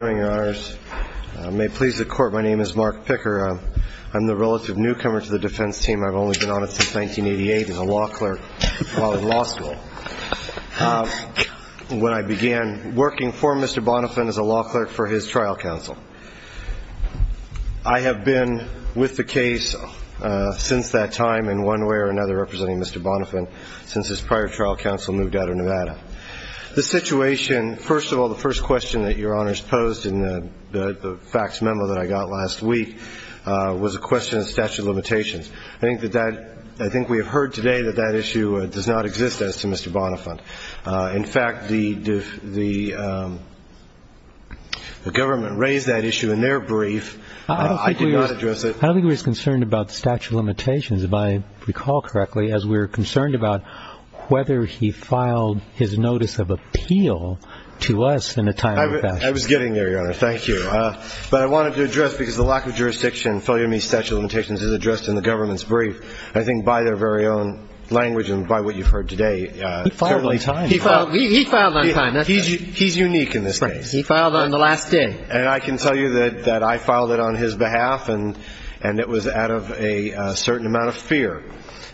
My name is Mark Picker. I'm the relative newcomer to the defense team. I've only been on it since 1988 as a law clerk while in law school. When I began working for Mr. Bonnefant as a law clerk for his trial counsel. I have been with the case since that time in one way or another representing Mr. Bonnefant since his prior trial counsel moved out of Nevada. The situation first of all the first question that your honors posed in the facts memo that I got last week was a question of statute of limitations. I think that that I think we have heard today that that issue does not exist as to Mr. Bonnefant. In fact the the government raised that issue in their brief. I think he was concerned about statute of limitations if I recall correctly as we were concerned about whether he filed his notice of appeal to us in a timely fashion. I was getting there your honor. Thank you. But I wanted to address because the lack of jurisdiction and failure to meet statute of limitations is addressed in the government's brief. I think by their very own language and by what you've heard today. He filed on time. He filed on time. He's unique in this case. He filed on the last day. And I can tell you that that I filed it on his behalf and and it was out of a certain amount of fear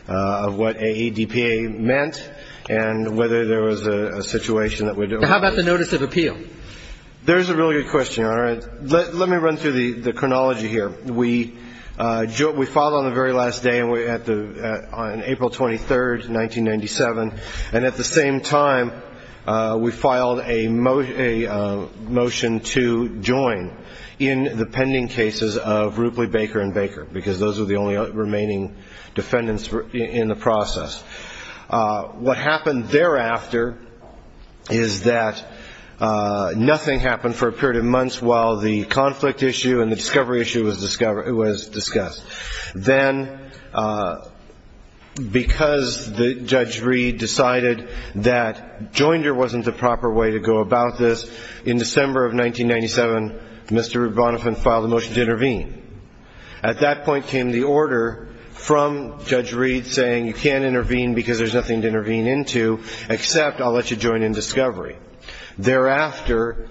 of what a DPA meant and whether there was a situation that would. How about the notice of appeal. There's a really good question. All right. Let me run through the chronology here. We filed on the very last day and we're at the on April 23rd 1997. And at the same time we filed a motion to join in the pending cases of Ripley Baker and Baker because those are the only remaining defendants in the process. What happened thereafter is that nothing happened for a period of months while the conflict issue and the discovery issue was discovered. It was discussed then because the judge read decided that Joinder wasn't the proper way to go about this in December of 1997. Mr. from Judge Reed saying you can't intervene because there's nothing to intervene into except I'll let you join in discovery. Thereafter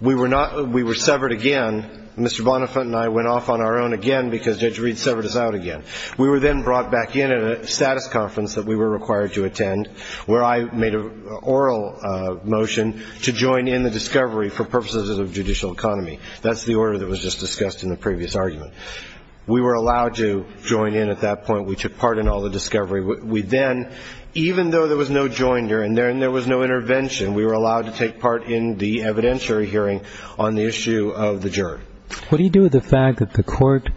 we were not. We were severed again. Mr. Bonifant and I went off on our own again because Judge Reed severed us out again. We were then brought back in at a status conference that we were required to attend where I made an oral motion to join in the discovery for purposes of judicial economy. That's the order that was just discussed in the previous argument. We were allowed to join in at that point. We took part in all the discovery. We then even though there was no Joinder in there and there was no intervention we were allowed to take part in the evidentiary hearing on the issue of the jury. What do you do with the fact that the court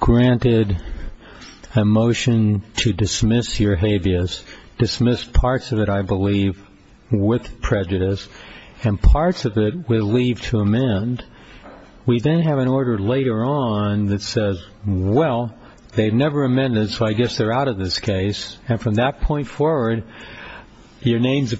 granted a motion to dismiss your habeas dismissed parts of it I believe with prejudice and parts of it with leave to amend. We then have an order later on that says well they've never amended. So I guess they're out of this case. And from that point forward your name's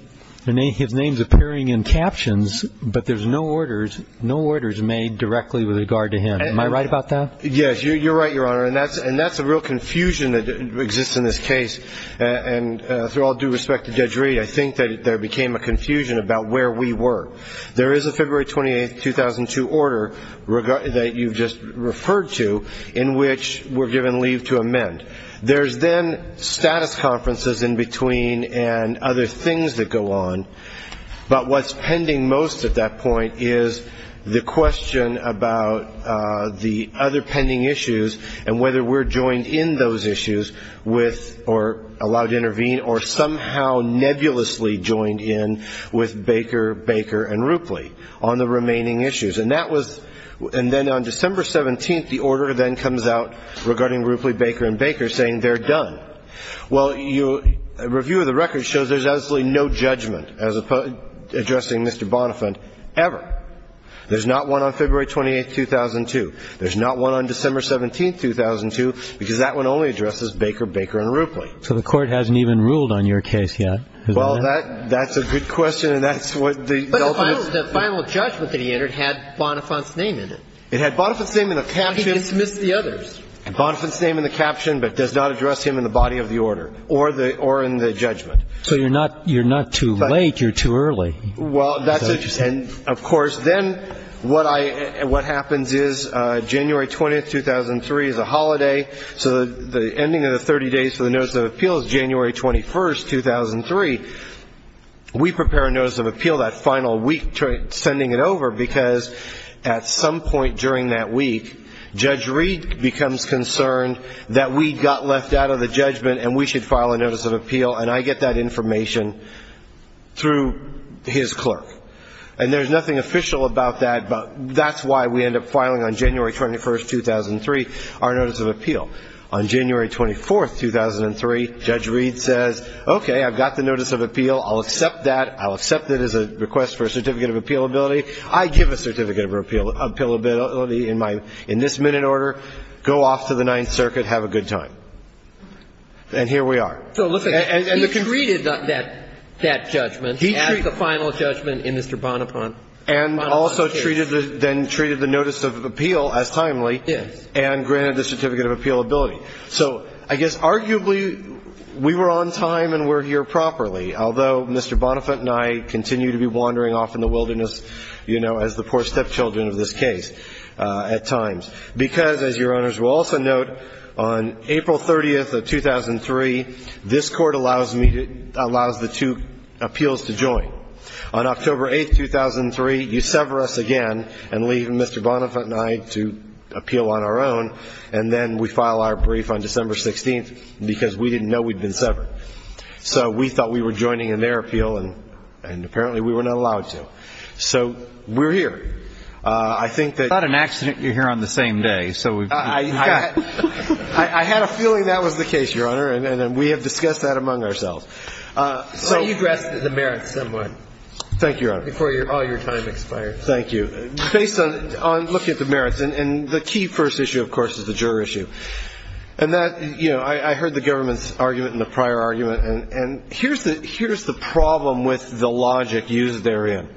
name his name's appearing in captions. But there's no orders no orders made directly with regard to him. Am I right about that. Yes you're right Your Honor. And that's and that's a real confusion that exists in this case. And through all due respect to Judge Reed I think that there became a confusion about where we were. There is a February 28th 2002 order that you've just referred to in which we're given leave to amend. There's then status conferences in between and other things that go on. But what's pending most at that point is the question about the other pending issues and whether we're joined in those issues with or allowed to intervene or somehow nebulously joined in with Baker Baker and Roopley on the remaining issues. And that was and then on December 17th the order then comes out regarding Roopley Baker and Baker saying they're done. Well your review of the record shows there's absolutely no judgment as opposed to addressing Mr. Bonifant ever. There's not one on February 28th 2002. There's not one on December 17th 2002 because that one only addresses Baker Baker and Roopley. So the court hasn't even ruled on your case yet. Well that that's a good question and that's what the ultimate. The final judgment that he entered had Bonifant's name in it. It had Bonifant's name in the caption. He dismissed the others. Bonifant's name in the caption but does not address him in the body of the order or the or in the judgment. So you're not you're not too late you're too early. Well that's it. And of course then what I what happens is January 20th 2003 is a holiday. So the ending of the 30 days for the notice of appeal is January 21st 2003. We prepare a notice of appeal that final week sending it over because at some point during that week Judge Reed becomes concerned that we got left out of the judgment and we should file a notice of appeal. And I get that information through his clerk. And there's nothing official about that. But that's why we end up filing on January 21st 2003 our notice of appeal. On January 24th 2003 Judge Reed says OK I've got the notice of appeal. I'll accept that. I'll accept it as a request for a certificate of appeal ability. I give a certificate of appeal appeal ability in my in this minute order. Go off to the Ninth Circuit have a good time. And here we are. So listen. He treated that judgment as the final judgment in Mr. Bonaparte. And also treated the then treated the notice of appeal as timely. Yes. And granted the certificate of appeal ability. So I guess arguably we were on time and we're here properly. Although Mr. Bonaparte and I continue to be wandering off in the wilderness, you know, as the poor stepchildren of this case at times. Because, as your owners will also note, on April 30th of 2003 this court allows the two appeals to join. On October 8th 2003 you sever us again and leave Mr. Bonaparte and I to appeal on our own. And then we file our brief on December 16th because we didn't know we'd been severed. So we thought we were joining in their appeal and apparently we were not allowed to. So we're here. I think that. It's not an accident you're here on the same day. I had a feeling that was the case, Your Honor. And we have discussed that among ourselves. So you addressed the merits somewhat. Thank you, Your Honor. Before all your time expired. Thank you. Based on looking at the merits. And the key first issue, of course, is the juror issue. And that, you know, I heard the government's argument and the prior argument. And here's the problem with the logic used therein.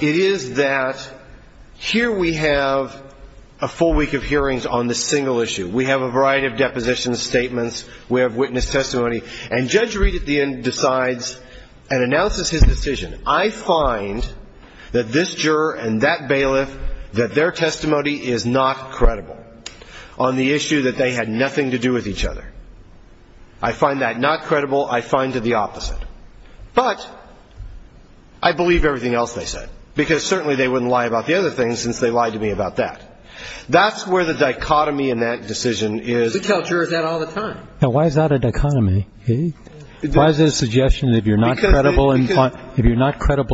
It is that here we have a full week of hearings on this single issue. We have a variety of depositions, statements. We have witness testimony. And Judge Reed at the end decides and announces his decision. I find that this juror and that bailiff, that their testimony is not credible on the issue that they had nothing to do with each other. I find that not credible. I find it the opposite. But I believe everything else they said. Because certainly they wouldn't lie about the other things since they lied to me about that. That's where the dichotomy in that decision is. We tell jurors that all the time. Now, why is that a dichotomy? Why is it a suggestion that if you're not credible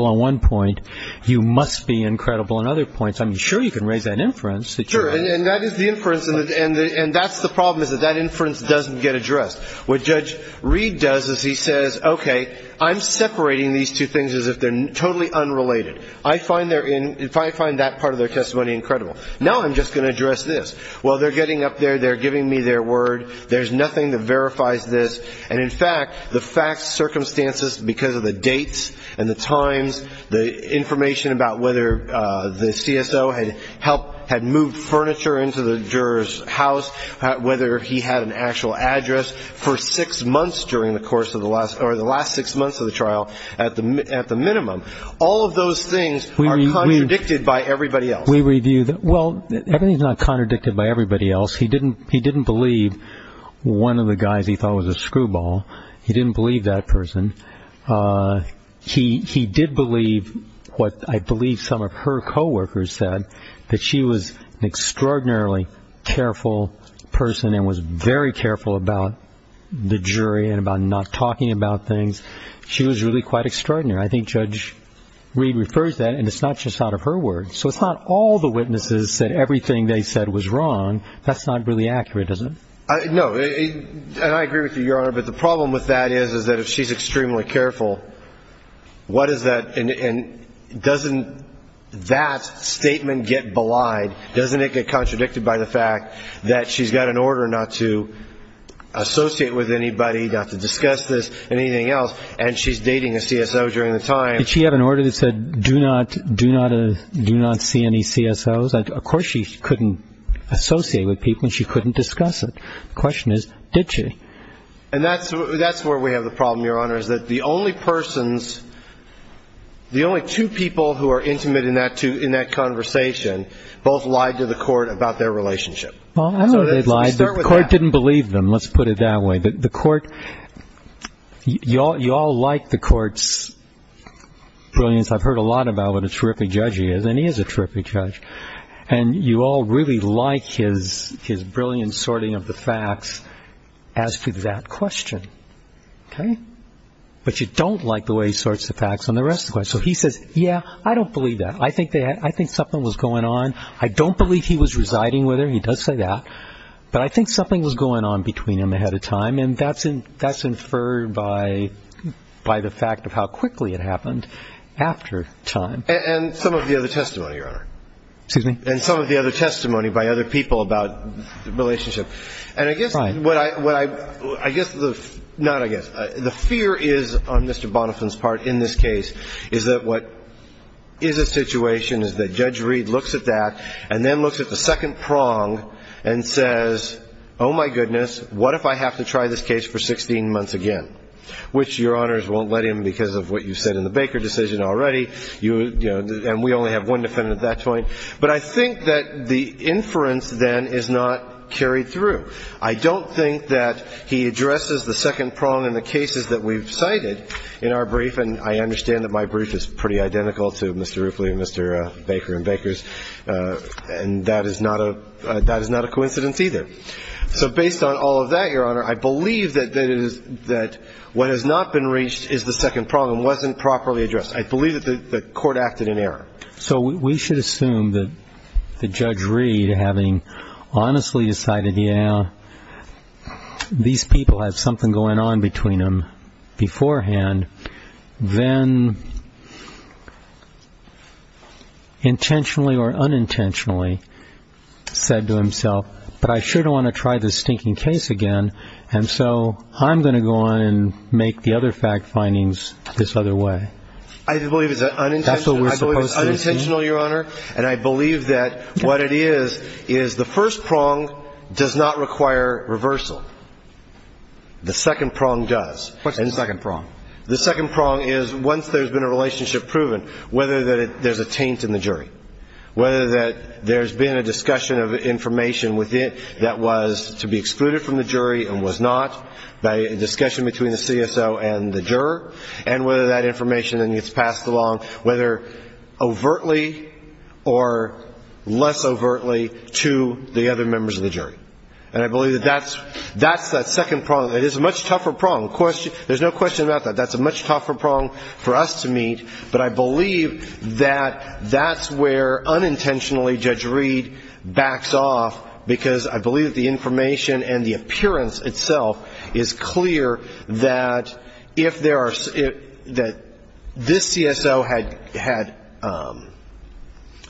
on one point, you must be incredible on other points? I mean, sure you can raise that inference. Sure. And that is the inference. And that's the problem is that that inference doesn't get addressed. What Judge Reed does is he says, okay, I'm separating these two things as if they're totally unrelated. I find that part of their testimony incredible. Now I'm just going to address this. Well, they're getting up there. They're giving me their word. There's nothing that verifies this. And, in fact, the facts, circumstances, because of the dates and the times, the information about whether the CSO had moved furniture into the juror's house, whether he had an actual address, for six months during the course of the last or the last six months of the trial, at the minimum, all of those things are contradicted by everybody else. We review that. Well, everything is not contradicted by everybody else. He didn't believe one of the guys he thought was a screwball. He didn't believe that person. He did believe what I believe some of her coworkers said, that she was an extraordinarily careful person and was very careful about the jury and about not talking about things. She was really quite extraordinary. I think Judge Reed refers to that, and it's not just out of her words. So it's not all the witnesses said everything they said was wrong. That's not really accurate, is it? No. And I agree with you, Your Honor, but the problem with that is, is that if she's extremely careful, what is that? And doesn't that statement get belied? Doesn't it get contradicted by the fact that she's got an order not to associate with anybody, not to discuss this, anything else, and she's dating a CSO during the time? Did she have an order that said, do not see any CSOs? Of course she couldn't associate with people and she couldn't discuss it. The question is, did she? And that's where we have the problem, Your Honor, is that the only persons, the only two people who are intimate in that conversation both lied to the court about their relationship. Well, I know they lied. The court didn't believe them. Let's put it that way. The court, you all like the court's brilliance. I've heard a lot about what a terrific judge he is, and he is a terrific judge. And you all really like his brilliant sorting of the facts as to that question, okay? But you don't like the way he sorts the facts on the rest of the questions. So he says, yeah, I don't believe that. I think something was going on. I don't believe he was residing with her. He does say that. But I think something was going on between them ahead of time, and that's inferred by the fact of how quickly it happened after time. And some of the other testimony, Your Honor. Excuse me? And some of the other testimony by other people about the relationship. And I guess what I – I guess the – not I guess. The fear is on Mr. Bonifan's part in this case is that what is a situation is that Judge Reed looks at that and then looks at the second prong and says, oh, my goodness, what if I have to try this case for 16 months again, which Your Honors won't let him because of what you said in the Baker decision already. You – and we only have one defendant at that point. But I think that the inference then is not carried through. I don't think that he addresses the second prong in the cases that we've cited in our brief, and I understand that my brief is pretty identical to Mr. Roofley and Mr. Baker and Baker's, and that is not a – that is not a coincidence either. So based on all of that, Your Honor, I believe that it is – that what has not been reached is the second prong and wasn't properly addressed. I believe that the court acted in error. So we should assume that Judge Reed, having honestly decided, yeah, these people have something going on between them beforehand, then intentionally or unintentionally said to himself, but I sure don't want to try this stinking case again, and so I'm going to go on and make the other fact findings this other way. I believe it's unintentional, Your Honor, and I believe that what it is is the first prong does not require reversal. The second prong does. What's the second prong? The second prong is once there's been a relationship proven, whether there's a taint in the jury, whether that there's been a discussion of information that was to be excluded from the jury and was not, by a discussion between the CSO and the juror, and whether that information then gets passed along, whether overtly or less overtly, to the other members of the jury. And I believe that that's that second prong. It is a much tougher prong. There's no question about that. That's a much tougher prong for us to meet, but I believe that that's where unintentionally Judge Reed backs off, because I believe the information and the appearance itself is clear that if there are, that this CSO had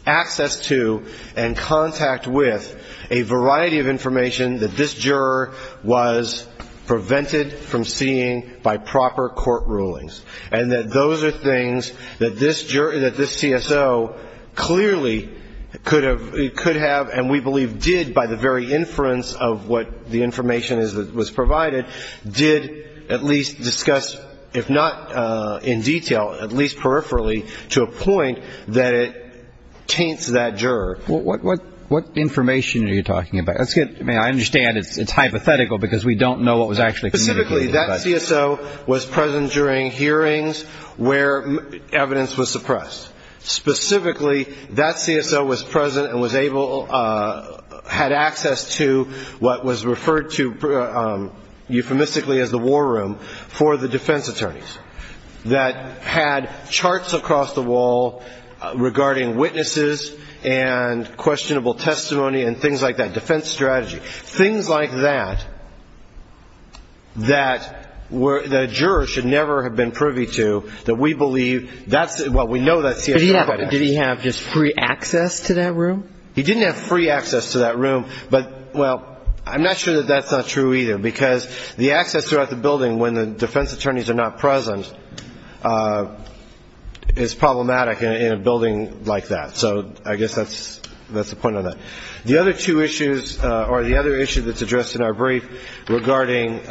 access to and contact with a variety of information that this juror was prevented from seeing by proper court rulings, and that those are things that this CSO clearly could have, and we believe did by the very inference of what the information was provided, did at least discuss, if not in detail, at least peripherally to a point that it taints that juror. What information are you talking about? I understand it's hypothetical because we don't know what was actually communicated. Specifically, that CSO was present during hearings where evidence was suppressed. Specifically, that CSO was present and had access to what was referred to euphemistically as the war room for the defense attorneys that had charts across the wall regarding witnesses and questionable testimony and things like that, defense strategy, things like that, that the juror should never have been privy to, that we believe, well, we know that CSO had access. Did he have just free access to that room? He didn't have free access to that room, but, well, I'm not sure that that's not true either, because the access throughout the building when the defense attorneys are not present is problematic in a building like that. So I guess that's the point on that. The other two issues or the other issue that's addressed in our brief regarding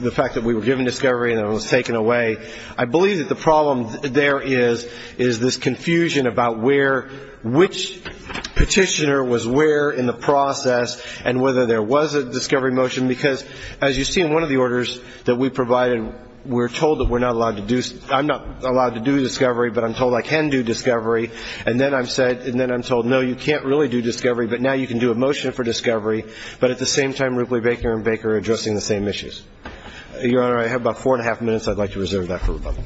the fact that we were given discovery and it was taken away, I believe that the problem there is, is this confusion about where, which petitioner was where in the process and whether there was a discovery motion, because as you see in one of the orders that we provided, we're told that we're not allowed to do, I'm not allowed to do discovery, but I'm told I can do discovery, and then I'm said, and then I'm told, no, you can't really do discovery, but now you can do a motion for discovery, but at the same time Rupley Baker and Baker are addressing the same issues. Your Honor, I have about four and a half minutes I'd like to reserve that for rebuttal.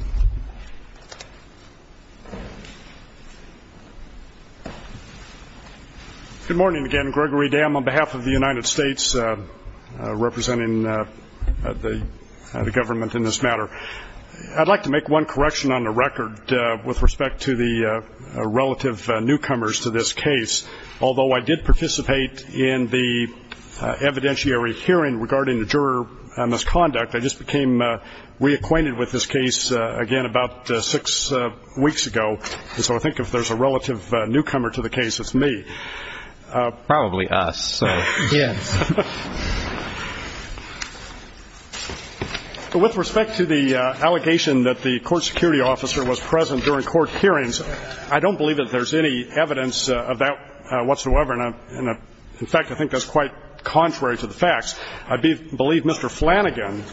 Good morning again. Gregory Dam on behalf of the United States representing the government in this matter. I'd like to make one correction on the record with respect to the relative newcomers to this case. Although I did participate in the evidentiary hearing regarding the juror misconduct, I just became reacquainted with this case again about six weeks ago, so I think if there's a relative newcomer to the case, it's me. Probably us. Yes. With respect to the allegation that the court security officer was present during court hearings, I don't believe that there's any evidence of that whatsoever. In fact, I think that's quite contrary to the facts. I believe Mr. Flanagan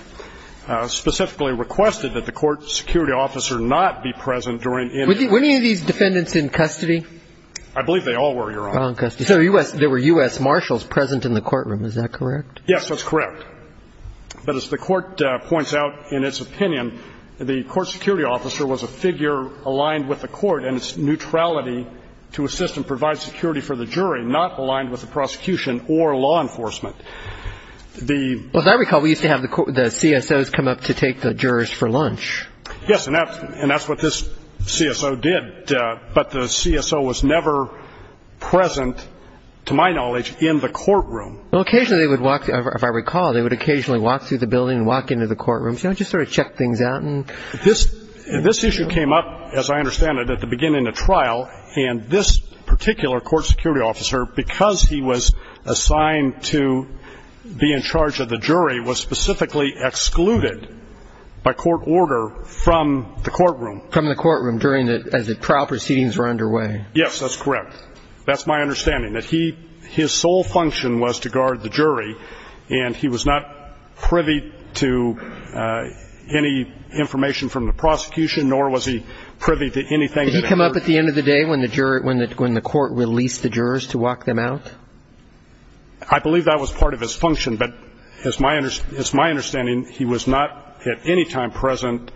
specifically requested that the court security officer not be present during any of these. Were any of these defendants in custody? I believe they all were, Your Honor. So there were U.S. marshals present in the courtroom. Is that correct? Yes, that's correct. But as the court points out in its opinion, the court security officer was a figure aligned with the court and its neutrality to assist and provide security for the jury, not aligned with the prosecution or law enforcement. As I recall, we used to have the CSOs come up to take the jurors for lunch. Yes, and that's what this CSO did. But the CSO was never present, to my knowledge, in the courtroom. Well, occasionally they would walk, if I recall, they would occasionally walk through the building and walk into the courtroom. You know, just sort of check things out. This issue came up, as I understand it, at the beginning of the trial, and this particular court security officer, because he was assigned to be in charge of the jury, was specifically excluded by court order from the courtroom. From the courtroom as the trial proceedings were underway. Yes, that's correct. That's my understanding, that his sole function was to guard the jury and he was not privy to any information from the prosecution, nor was he privy to anything that occurred. Did he come up at the end of the day when the court released the jurors to walk them out? I believe that was part of his function. But it's my understanding he was not at any time present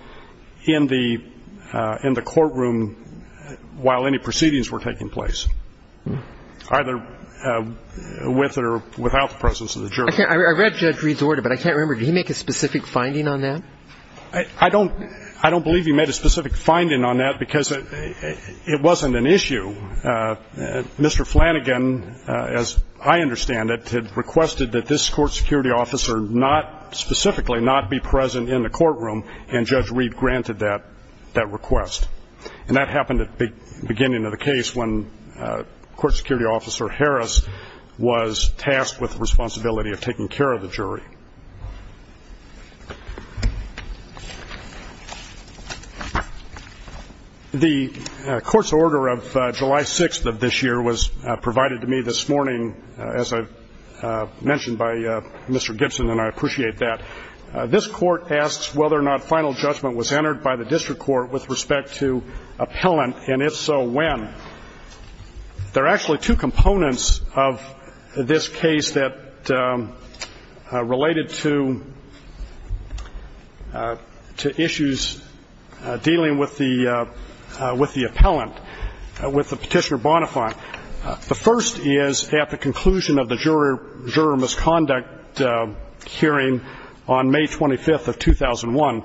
in the courtroom while any proceedings were taking place, either with or without the presence of the jurors. I read Judge Reed's order, but I can't remember, did he make a specific finding on that? I don't believe he made a specific finding on that because it wasn't an issue. Mr. Flanagan, as I understand it, had requested that this court security officer not specifically not be present in the courtroom, and Judge Reed granted that request. And that happened at the beginning of the case when court security officer Harris was tasked with the responsibility of taking care of the jury. The court's order of July 6th of this year was provided to me this morning, as I mentioned by Mr. Gibson, and I appreciate that. This court asks whether or not final judgment was entered by the district court with respect to appellant, and if so, when. There are actually two components of this case that are related to issues dealing with the appellant, with the Petitioner Bonafide. The first is at the conclusion of the juror misconduct hearing on May 25th of 2001,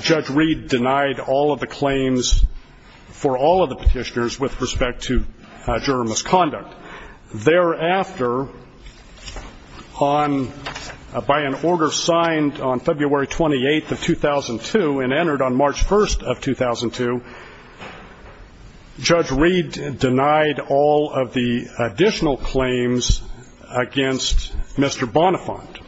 Judge Reed denied all of the claims for all of the petitioners with respect to juror misconduct. Thereafter, by an order signed on February 28th of 2002 and entered on March 1st of 2002, Judge Reed denied all of the additional claims against Mr. Bonafont.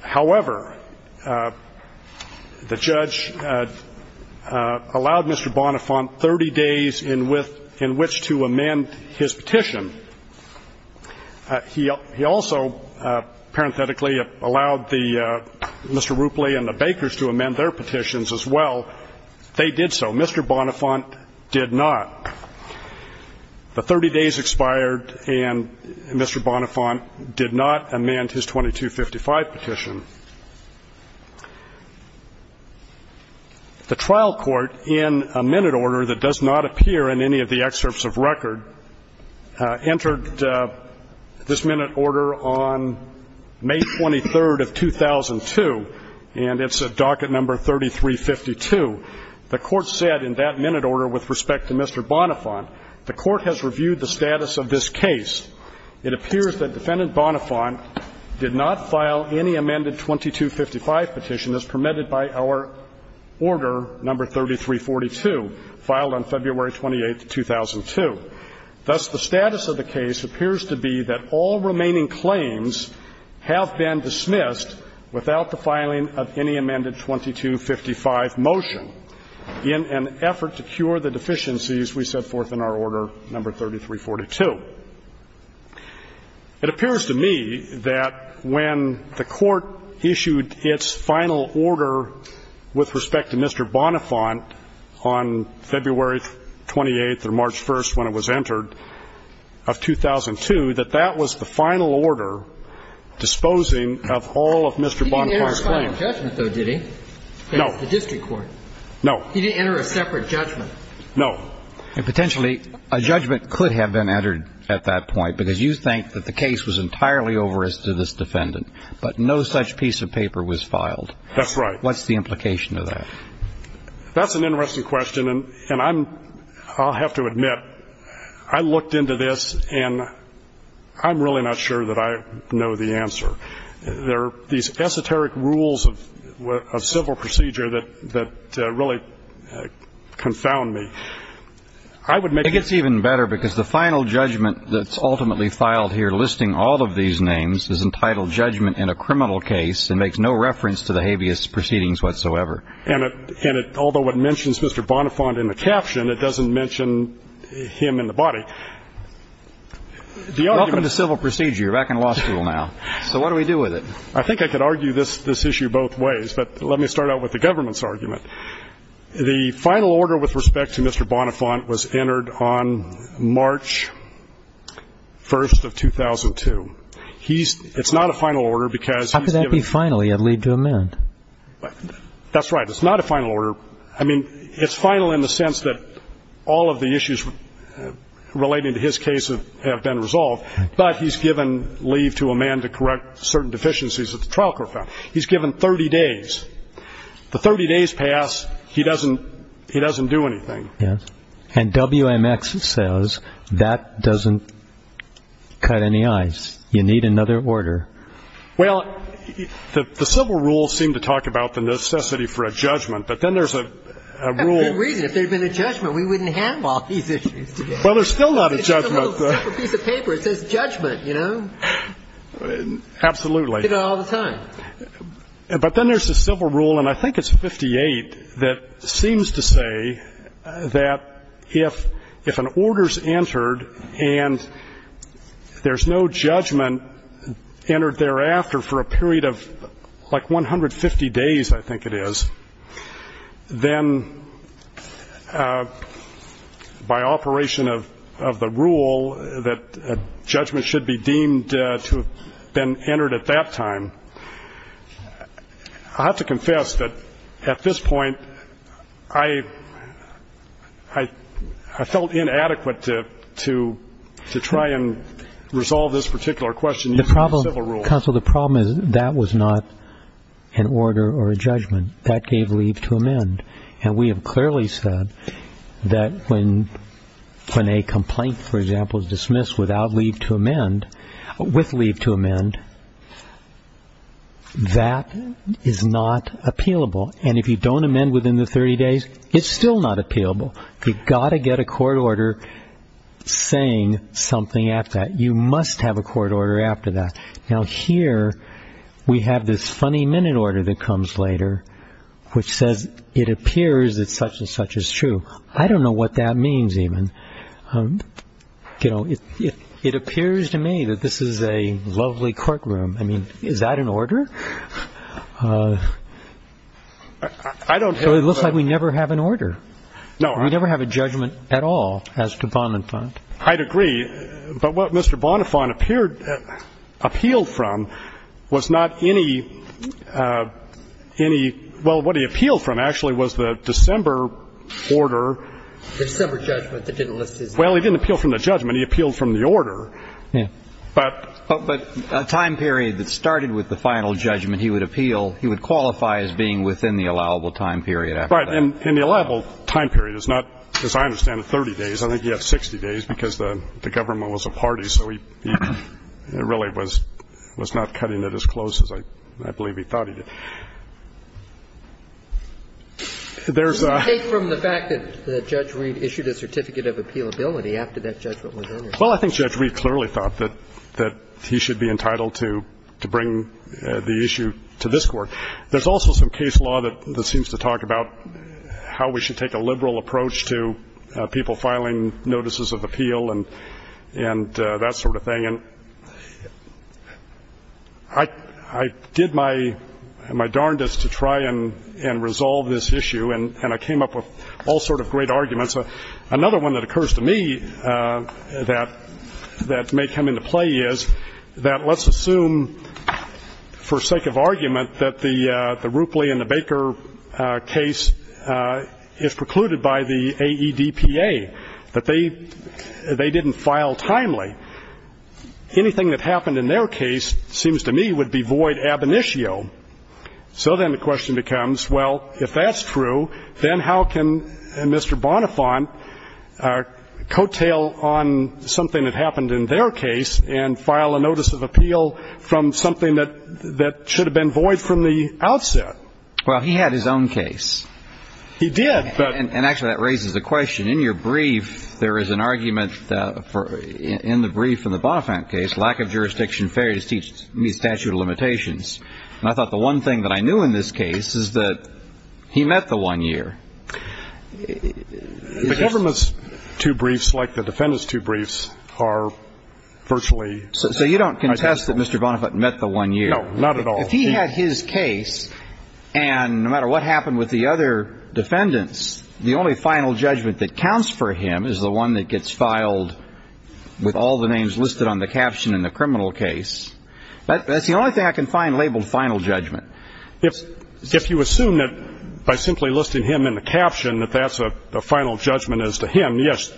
However, the judge allowed Mr. Bonafont 30 days in which to amend his petition. He also, parenthetically, allowed Mr. Rupley and the Bakers to amend their petitions as well. They did so. Mr. Bonafont did not. The 30 days expired, and Mr. Bonafont did not amend his 2255 petition. The trial court, in a minute order that does not appear in any of the excerpts of record, entered this minute order on May 23rd of 2002, and it's at docket number 3352. The court said in that minute order with respect to Mr. Bonafont, the court has reviewed the status of this case. It appears that Defendant Bonafont did not file any amended 2255 petition as permitted by our order number 3342, filed on February 28th of 2002. Thus, the status of the case appears to be that all remaining claims have been dismissed without the filing of any amended 2255 motion in an effort to cure the deficiencies we set forth in our order number 3342. It appears to me that when the Court issued its final order with respect to Mr. Bonafont on February 28th or March 1st when it was entered of 2002, that that was the final order disposing of all of Mr. Bonafont's claims. He didn't enter a final judgment, though, did he? No. The district court. No. He didn't enter a separate judgment. No. And potentially a judgment could have been entered at that point because you think that the case was entirely over as to this defendant, but no such piece of paper was filed. That's right. What's the implication of that? That's an interesting question, and I'm – I'll have to admit, I looked into this, and I'm really not sure that I know the answer. There are these esoteric rules of civil procedure that really confound me. I would make a – It gets even better because the final judgment that's ultimately filed here listing all of these names is entitled judgment in a criminal case and makes no reference to the habeas proceedings whatsoever. And it – although it mentions Mr. Bonafont in the caption, it doesn't mention him in the body. The argument – Welcome to civil procedure. You're back in law school now. So what do we do with it? I think I could argue this issue both ways, but let me start out with the government's argument. The final order with respect to Mr. Bonafont was entered on March 1st of 2002. He's – it's not a final order because he's given – How could that be final? You have leave to amend. That's right. It's not a final order. I mean, it's final in the sense that all of the issues relating to his case have been resolved, but he's given leave to amend to correct certain deficiencies that the trial court found. He's given 30 days. The 30 days pass. He doesn't – he doesn't do anything. Yes. And WMX says that doesn't cut any ice. You need another order. Well, the civil rules seem to talk about the necessity for a judgment, but then there's a rule – That's a good reason. If there had been a judgment, we wouldn't have all these issues today. Well, there's still not a judgment. It's a little piece of paper. It says judgment, you know. Absolutely. You get it all the time. But then there's a civil rule, and I think it's 58, that seems to say that if an order is entered and there's no judgment entered thereafter for a period of like 150 days, I think it is, then by operation of the rule that a judgment should be deemed to have been entered at that time, I have to confess that at this point, I felt inadequate to try and resolve this particular question using civil rules. Counsel, the problem is that was not an order or a judgment. That gave leave to amend. And we have clearly said that when a complaint, for example, is dismissed without leave to amend, with leave to amend, that is not appealable. And if you don't amend within the 30 days, it's still not appealable. You've got to get a court order saying something at that. You must have a court order after that. Now, here we have this funny minute order that comes later, which says, it appears that such and such is true. I don't know what that means even. You know, it appears to me that this is a lovely courtroom. I mean, is that an order? So it looks like we never have an order. We never have a judgment at all as to Bonifant. I'd agree. But what Mr. Bonifant appealed from was not any, well, what he appealed from actually was the December order. The December judgment that didn't list his name. Well, he didn't appeal from the judgment. He appealed from the order. Yeah. But. But a time period that started with the final judgment, he would appeal, he would qualify as being within the allowable time period after that. Right. And the allowable time period is not, as I understand it, 30 days. I think you have 60 days because the government was a party. So he really was not cutting it as close as I believe he thought he did. There's a. Take from the fact that Judge Reed issued a certificate of appealability after that judgment was over. Well, I think Judge Reed clearly thought that he should be entitled to bring the issue to this Court. There's also some case law that seems to talk about how we should take a liberal approach to people filing notices of appeal and that sort of thing. And I did my darndest to try and resolve this issue, and I came up with all sort of great arguments. Another one that occurs to me that may come into play is that let's assume, for the sake of argument, that the Roopley and the Baker case is precluded by the AEDPA, that they didn't file timely. Anything that happened in their case, it seems to me, would be void ab initio. So then the question becomes, well, if that's true, then how can Mr. Bonifant coattail on something that happened in their case and file a notice of appeal from something that should have been void from the outset? Well, he had his own case. He did. And, actually, that raises a question. In your brief, there is an argument in the brief in the Bonifant case, lack of jurisdiction fairs the statute of limitations. And I thought the one thing that I knew in this case is that he met the one year. The government's two briefs, like the defendant's two briefs, are virtually identical. So you don't contest that Mr. Bonifant met the one year? No, not at all. If he had his case, and no matter what happened with the other defendants, the only final judgment that counts for him is the one that gets filed with all the names listed on the caption in the criminal case. That's the only thing I can find labeled final judgment. If you assume that by simply listing him in the caption, that that's a final judgment as to him, yes,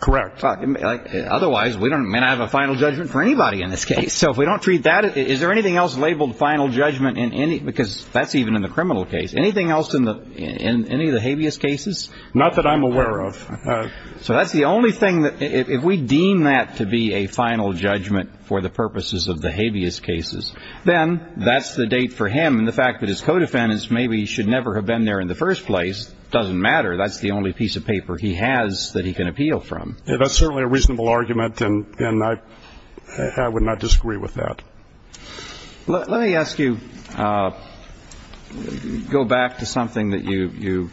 correct. Otherwise, we don't have a final judgment for anybody in this case. So if we don't treat that, is there anything else labeled final judgment in any because that's even in the criminal case. Anything else in any of the habeas cases? Not that I'm aware of. So that's the only thing. If we deem that to be a final judgment for the purposes of the habeas cases, then that's the date for him. And the fact that his co-defendants maybe should never have been there in the first place doesn't matter. That's the only piece of paper he has that he can appeal from. That's certainly a reasonable argument, and I would not disagree with that. Let me ask you, go back to something that you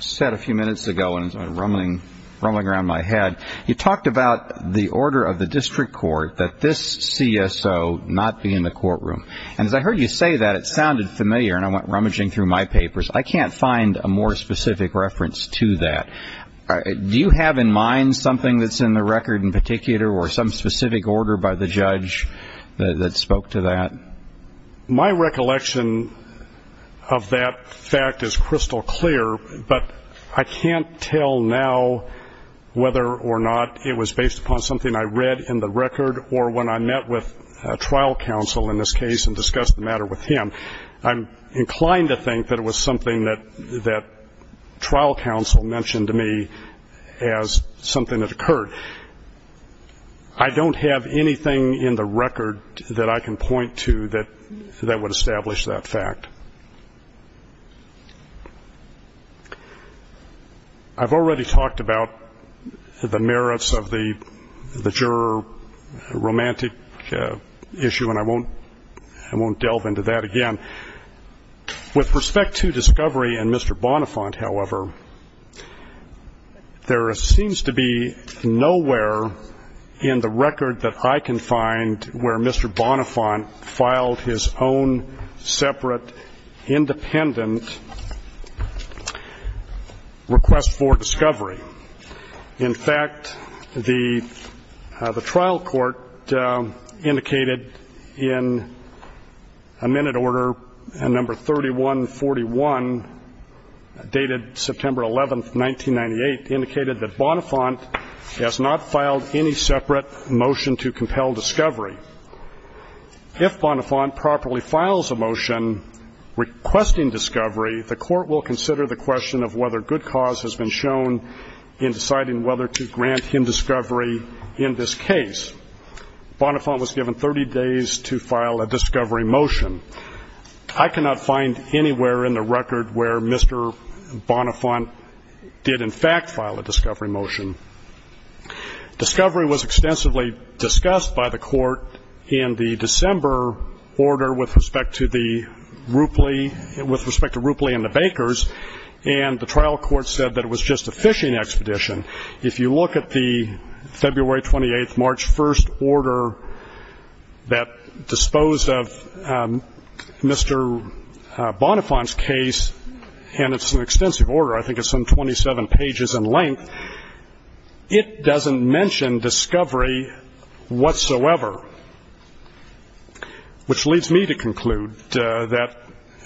said a few minutes ago, and it's rumbling around my head. You talked about the order of the district court that this CSO not be in the courtroom. And as I heard you say that, it sounded familiar, and I went rummaging through my papers. I can't find a more specific reference to that. Do you have in mind something that's in the record in particular or some specific order by the judge that spoke to that? My recollection of that fact is crystal clear, but I can't tell now whether or not it was based upon something I read in the record or when I met with a trial counsel in this case and discussed the matter with him. I'm inclined to think that it was something that trial counsel mentioned to me as something that occurred. I don't have anything in the record that I can point to that would establish that fact. I've already talked about the merits of the juror romantic issue, and I won't delve into that again. With respect to discovery and Mr. Bonifant, however, there seems to be nowhere in the record that I can find where Mr. Bonifant filed his own separate, independent request for discovery. In fact, the trial court indicated in a minute order number 3141, dated September 11, 1998, indicated that Bonifant has not filed any separate motion to compel discovery. If Bonifant properly files a motion requesting discovery, the court will consider the question of whether good cause has been shown in deciding whether to grant him discovery in this case. Bonifant was given 30 days to file a discovery motion. I cannot find anywhere in the record where Mr. Bonifant did, in fact, file a discovery motion. Discovery was extensively discussed by the court in the December order with respect to the Roopley and the Bakers, and the trial court said that it was just a fishing expedition. If you look at the February 28, March 1 order that disposed of Mr. Bonifant's case, and it's an extensive order, I think it's some 27 pages in length, it doesn't mention discovery whatsoever, which leads me to conclude that,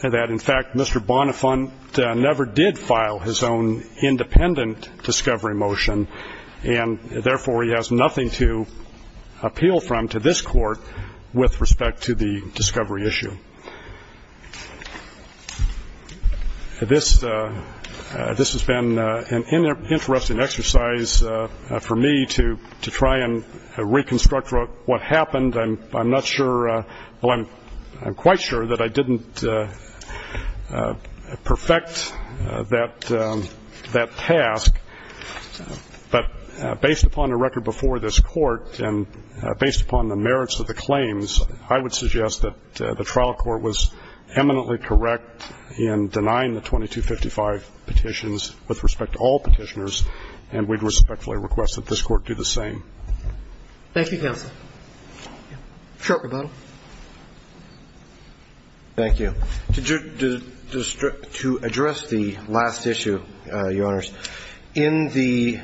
in fact, Mr. Bonifant never did file his own independent discovery motion, and therefore he has nothing to appeal from to this court with respect to the discovery issue. This has been an interesting exercise for me to try and reconstruct what happened. I'm not sure, well, I'm quite sure that I didn't perfect that task, but based upon the record before this court and based upon the merits of the claims, I would suggest that the trial court was eminently correct in denying the 2255 petitions with respect to all petitioners, and we'd respectfully request that this court do the same. Thank you, counsel. Short rebuttal. Thank you. To address the last issue, Your Honors, in the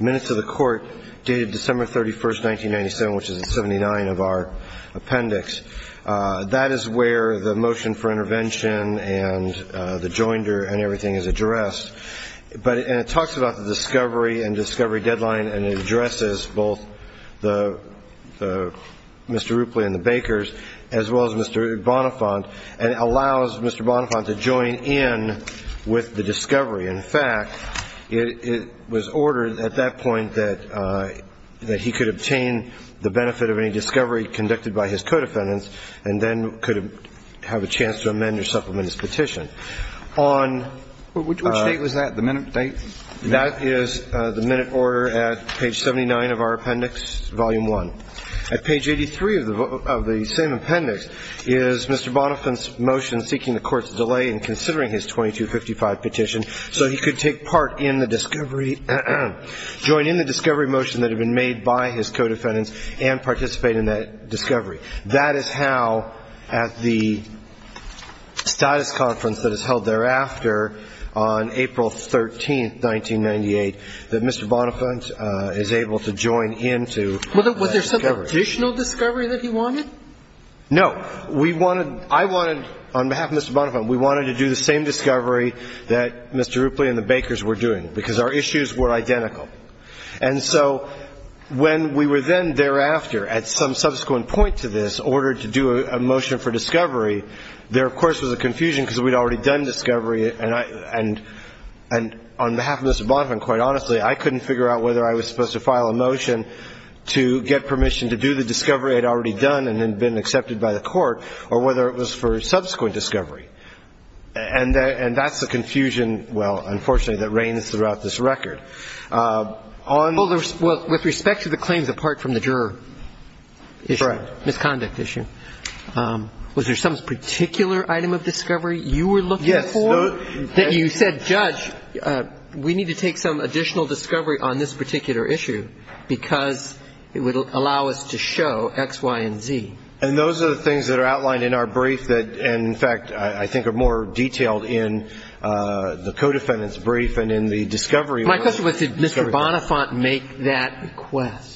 minutes of the court dated December 31, 1997, which is the 79 of our appendix, that is where the motion for intervention and the joinder and everything is addressed, and it talks about the discovery and discovery deadline, and it addresses both Mr. Rupley and the Bakers, as well as Mr. Bonifant, and it allows Mr. Bonifant to join in with the discovery. In fact, it was ordered at that point that he could obtain the benefit of any discovery conducted by his co-defendants and then could have a chance to amend or supplement his petition. On which date was that, the minute date? That is the minute order at page 79 of our appendix, volume 1. At page 83 of the same appendix is Mr. Bonifant's motion seeking the court's delay in considering his 2255 petition so he could take part in the discovery, join in the discovery motion that had been made by his co-defendants and participate in that discovery. That is how, at the status conference that is held thereafter on April 13, 1998, that Mr. Bonifant is able to join into that discovery. Was there some additional discovery that he wanted? No. We wanted to do the same discovery that Mr. Rupley and the Bakers were doing, because our issues were identical. And so when we were then thereafter at some subsequent point to this, ordered to do a motion for discovery, there, of course, was a confusion because we had already done discovery. And on behalf of Mr. Bonifant, quite honestly, I couldn't figure out whether I was supposed to file a motion to get permission to do the discovery I had already done and had been accepted by the court or whether it was for subsequent discovery. And that's the confusion, well, unfortunately, that reigns throughout this record. Well, with respect to the claims apart from the juror issue, misconduct issue, was there some particular item of discovery you were looking for that you said, Judge, we need to take some additional discovery on this particular issue because it would allow us to show X, Y, and Z? And those are the things that are outlined in our brief that, in fact, I think are more detailed in the co-defendant's brief and in the discovery. My question was, did Mr. Bonifant make that request?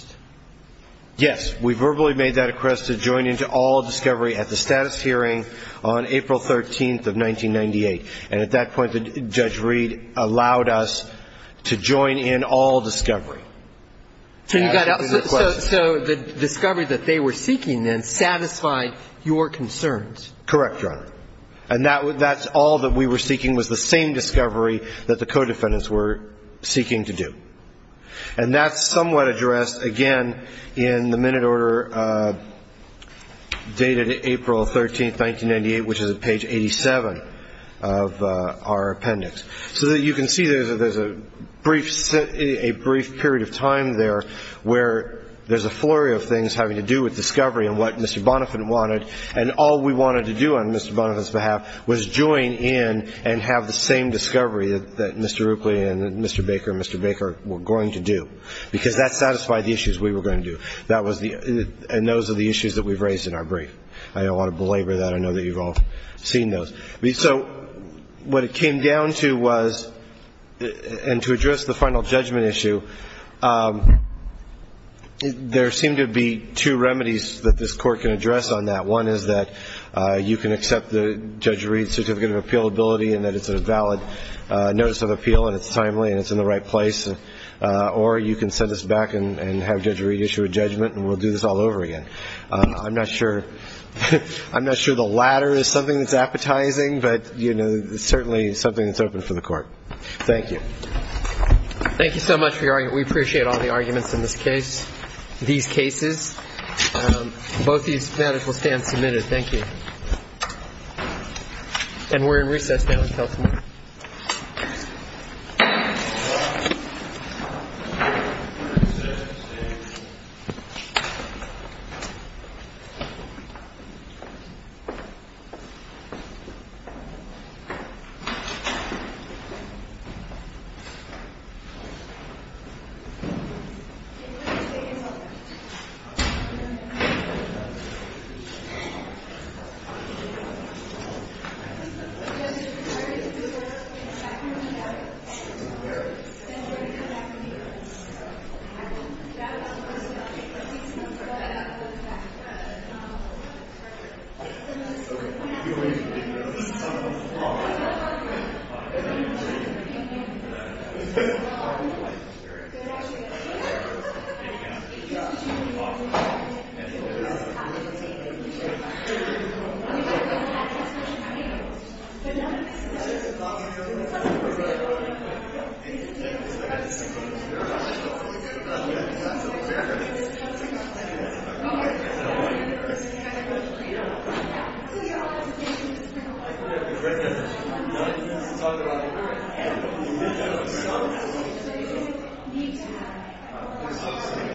Yes. We verbally made that request to join into all discovery at the status hearing on April 13th of 1998. And at that point, Judge Reed allowed us to join in all discovery. So the discovery that they were seeking then satisfied your concerns? Correct, Your Honor. And that's all that we were seeking was the same discovery that the co-defendants were seeking to do. And that's somewhat addressed, again, in the minute order dated April 13th, 1998, which is at page 87 of our appendix. So you can see there's a brief period of time there where there's a flurry of things having to do with discovery and what Mr. Bonifant wanted, and all we wanted to do on Mr. Bonifant's behalf was join in and have the same discovery that Mr. Rookley and Mr. Baker and Mr. Baker were going to do, because that satisfied the issues we were going to do. And those are the issues that we've raised in our brief. I don't want to belabor that. I know that you've all seen those. So what it came down to was, and to address the final judgment issue, there seem to be two remedies that this Court can address on that. One is that you can accept Judge Reed's certificate of appealability and that it's a valid notice of appeal and it's timely and it's in the right place, or you can send us back and have Judge Reed issue a judgment and we'll do this all over again. I'm not sure the latter is something that's appetizing, but it's certainly something that's open for the Court. Thank you. Thank you so much. We appreciate all the arguments in this case, these cases. Both these matters will stand submitted. Thank you. And we're in recess now until tomorrow. Thank you. Thank you. Thank you.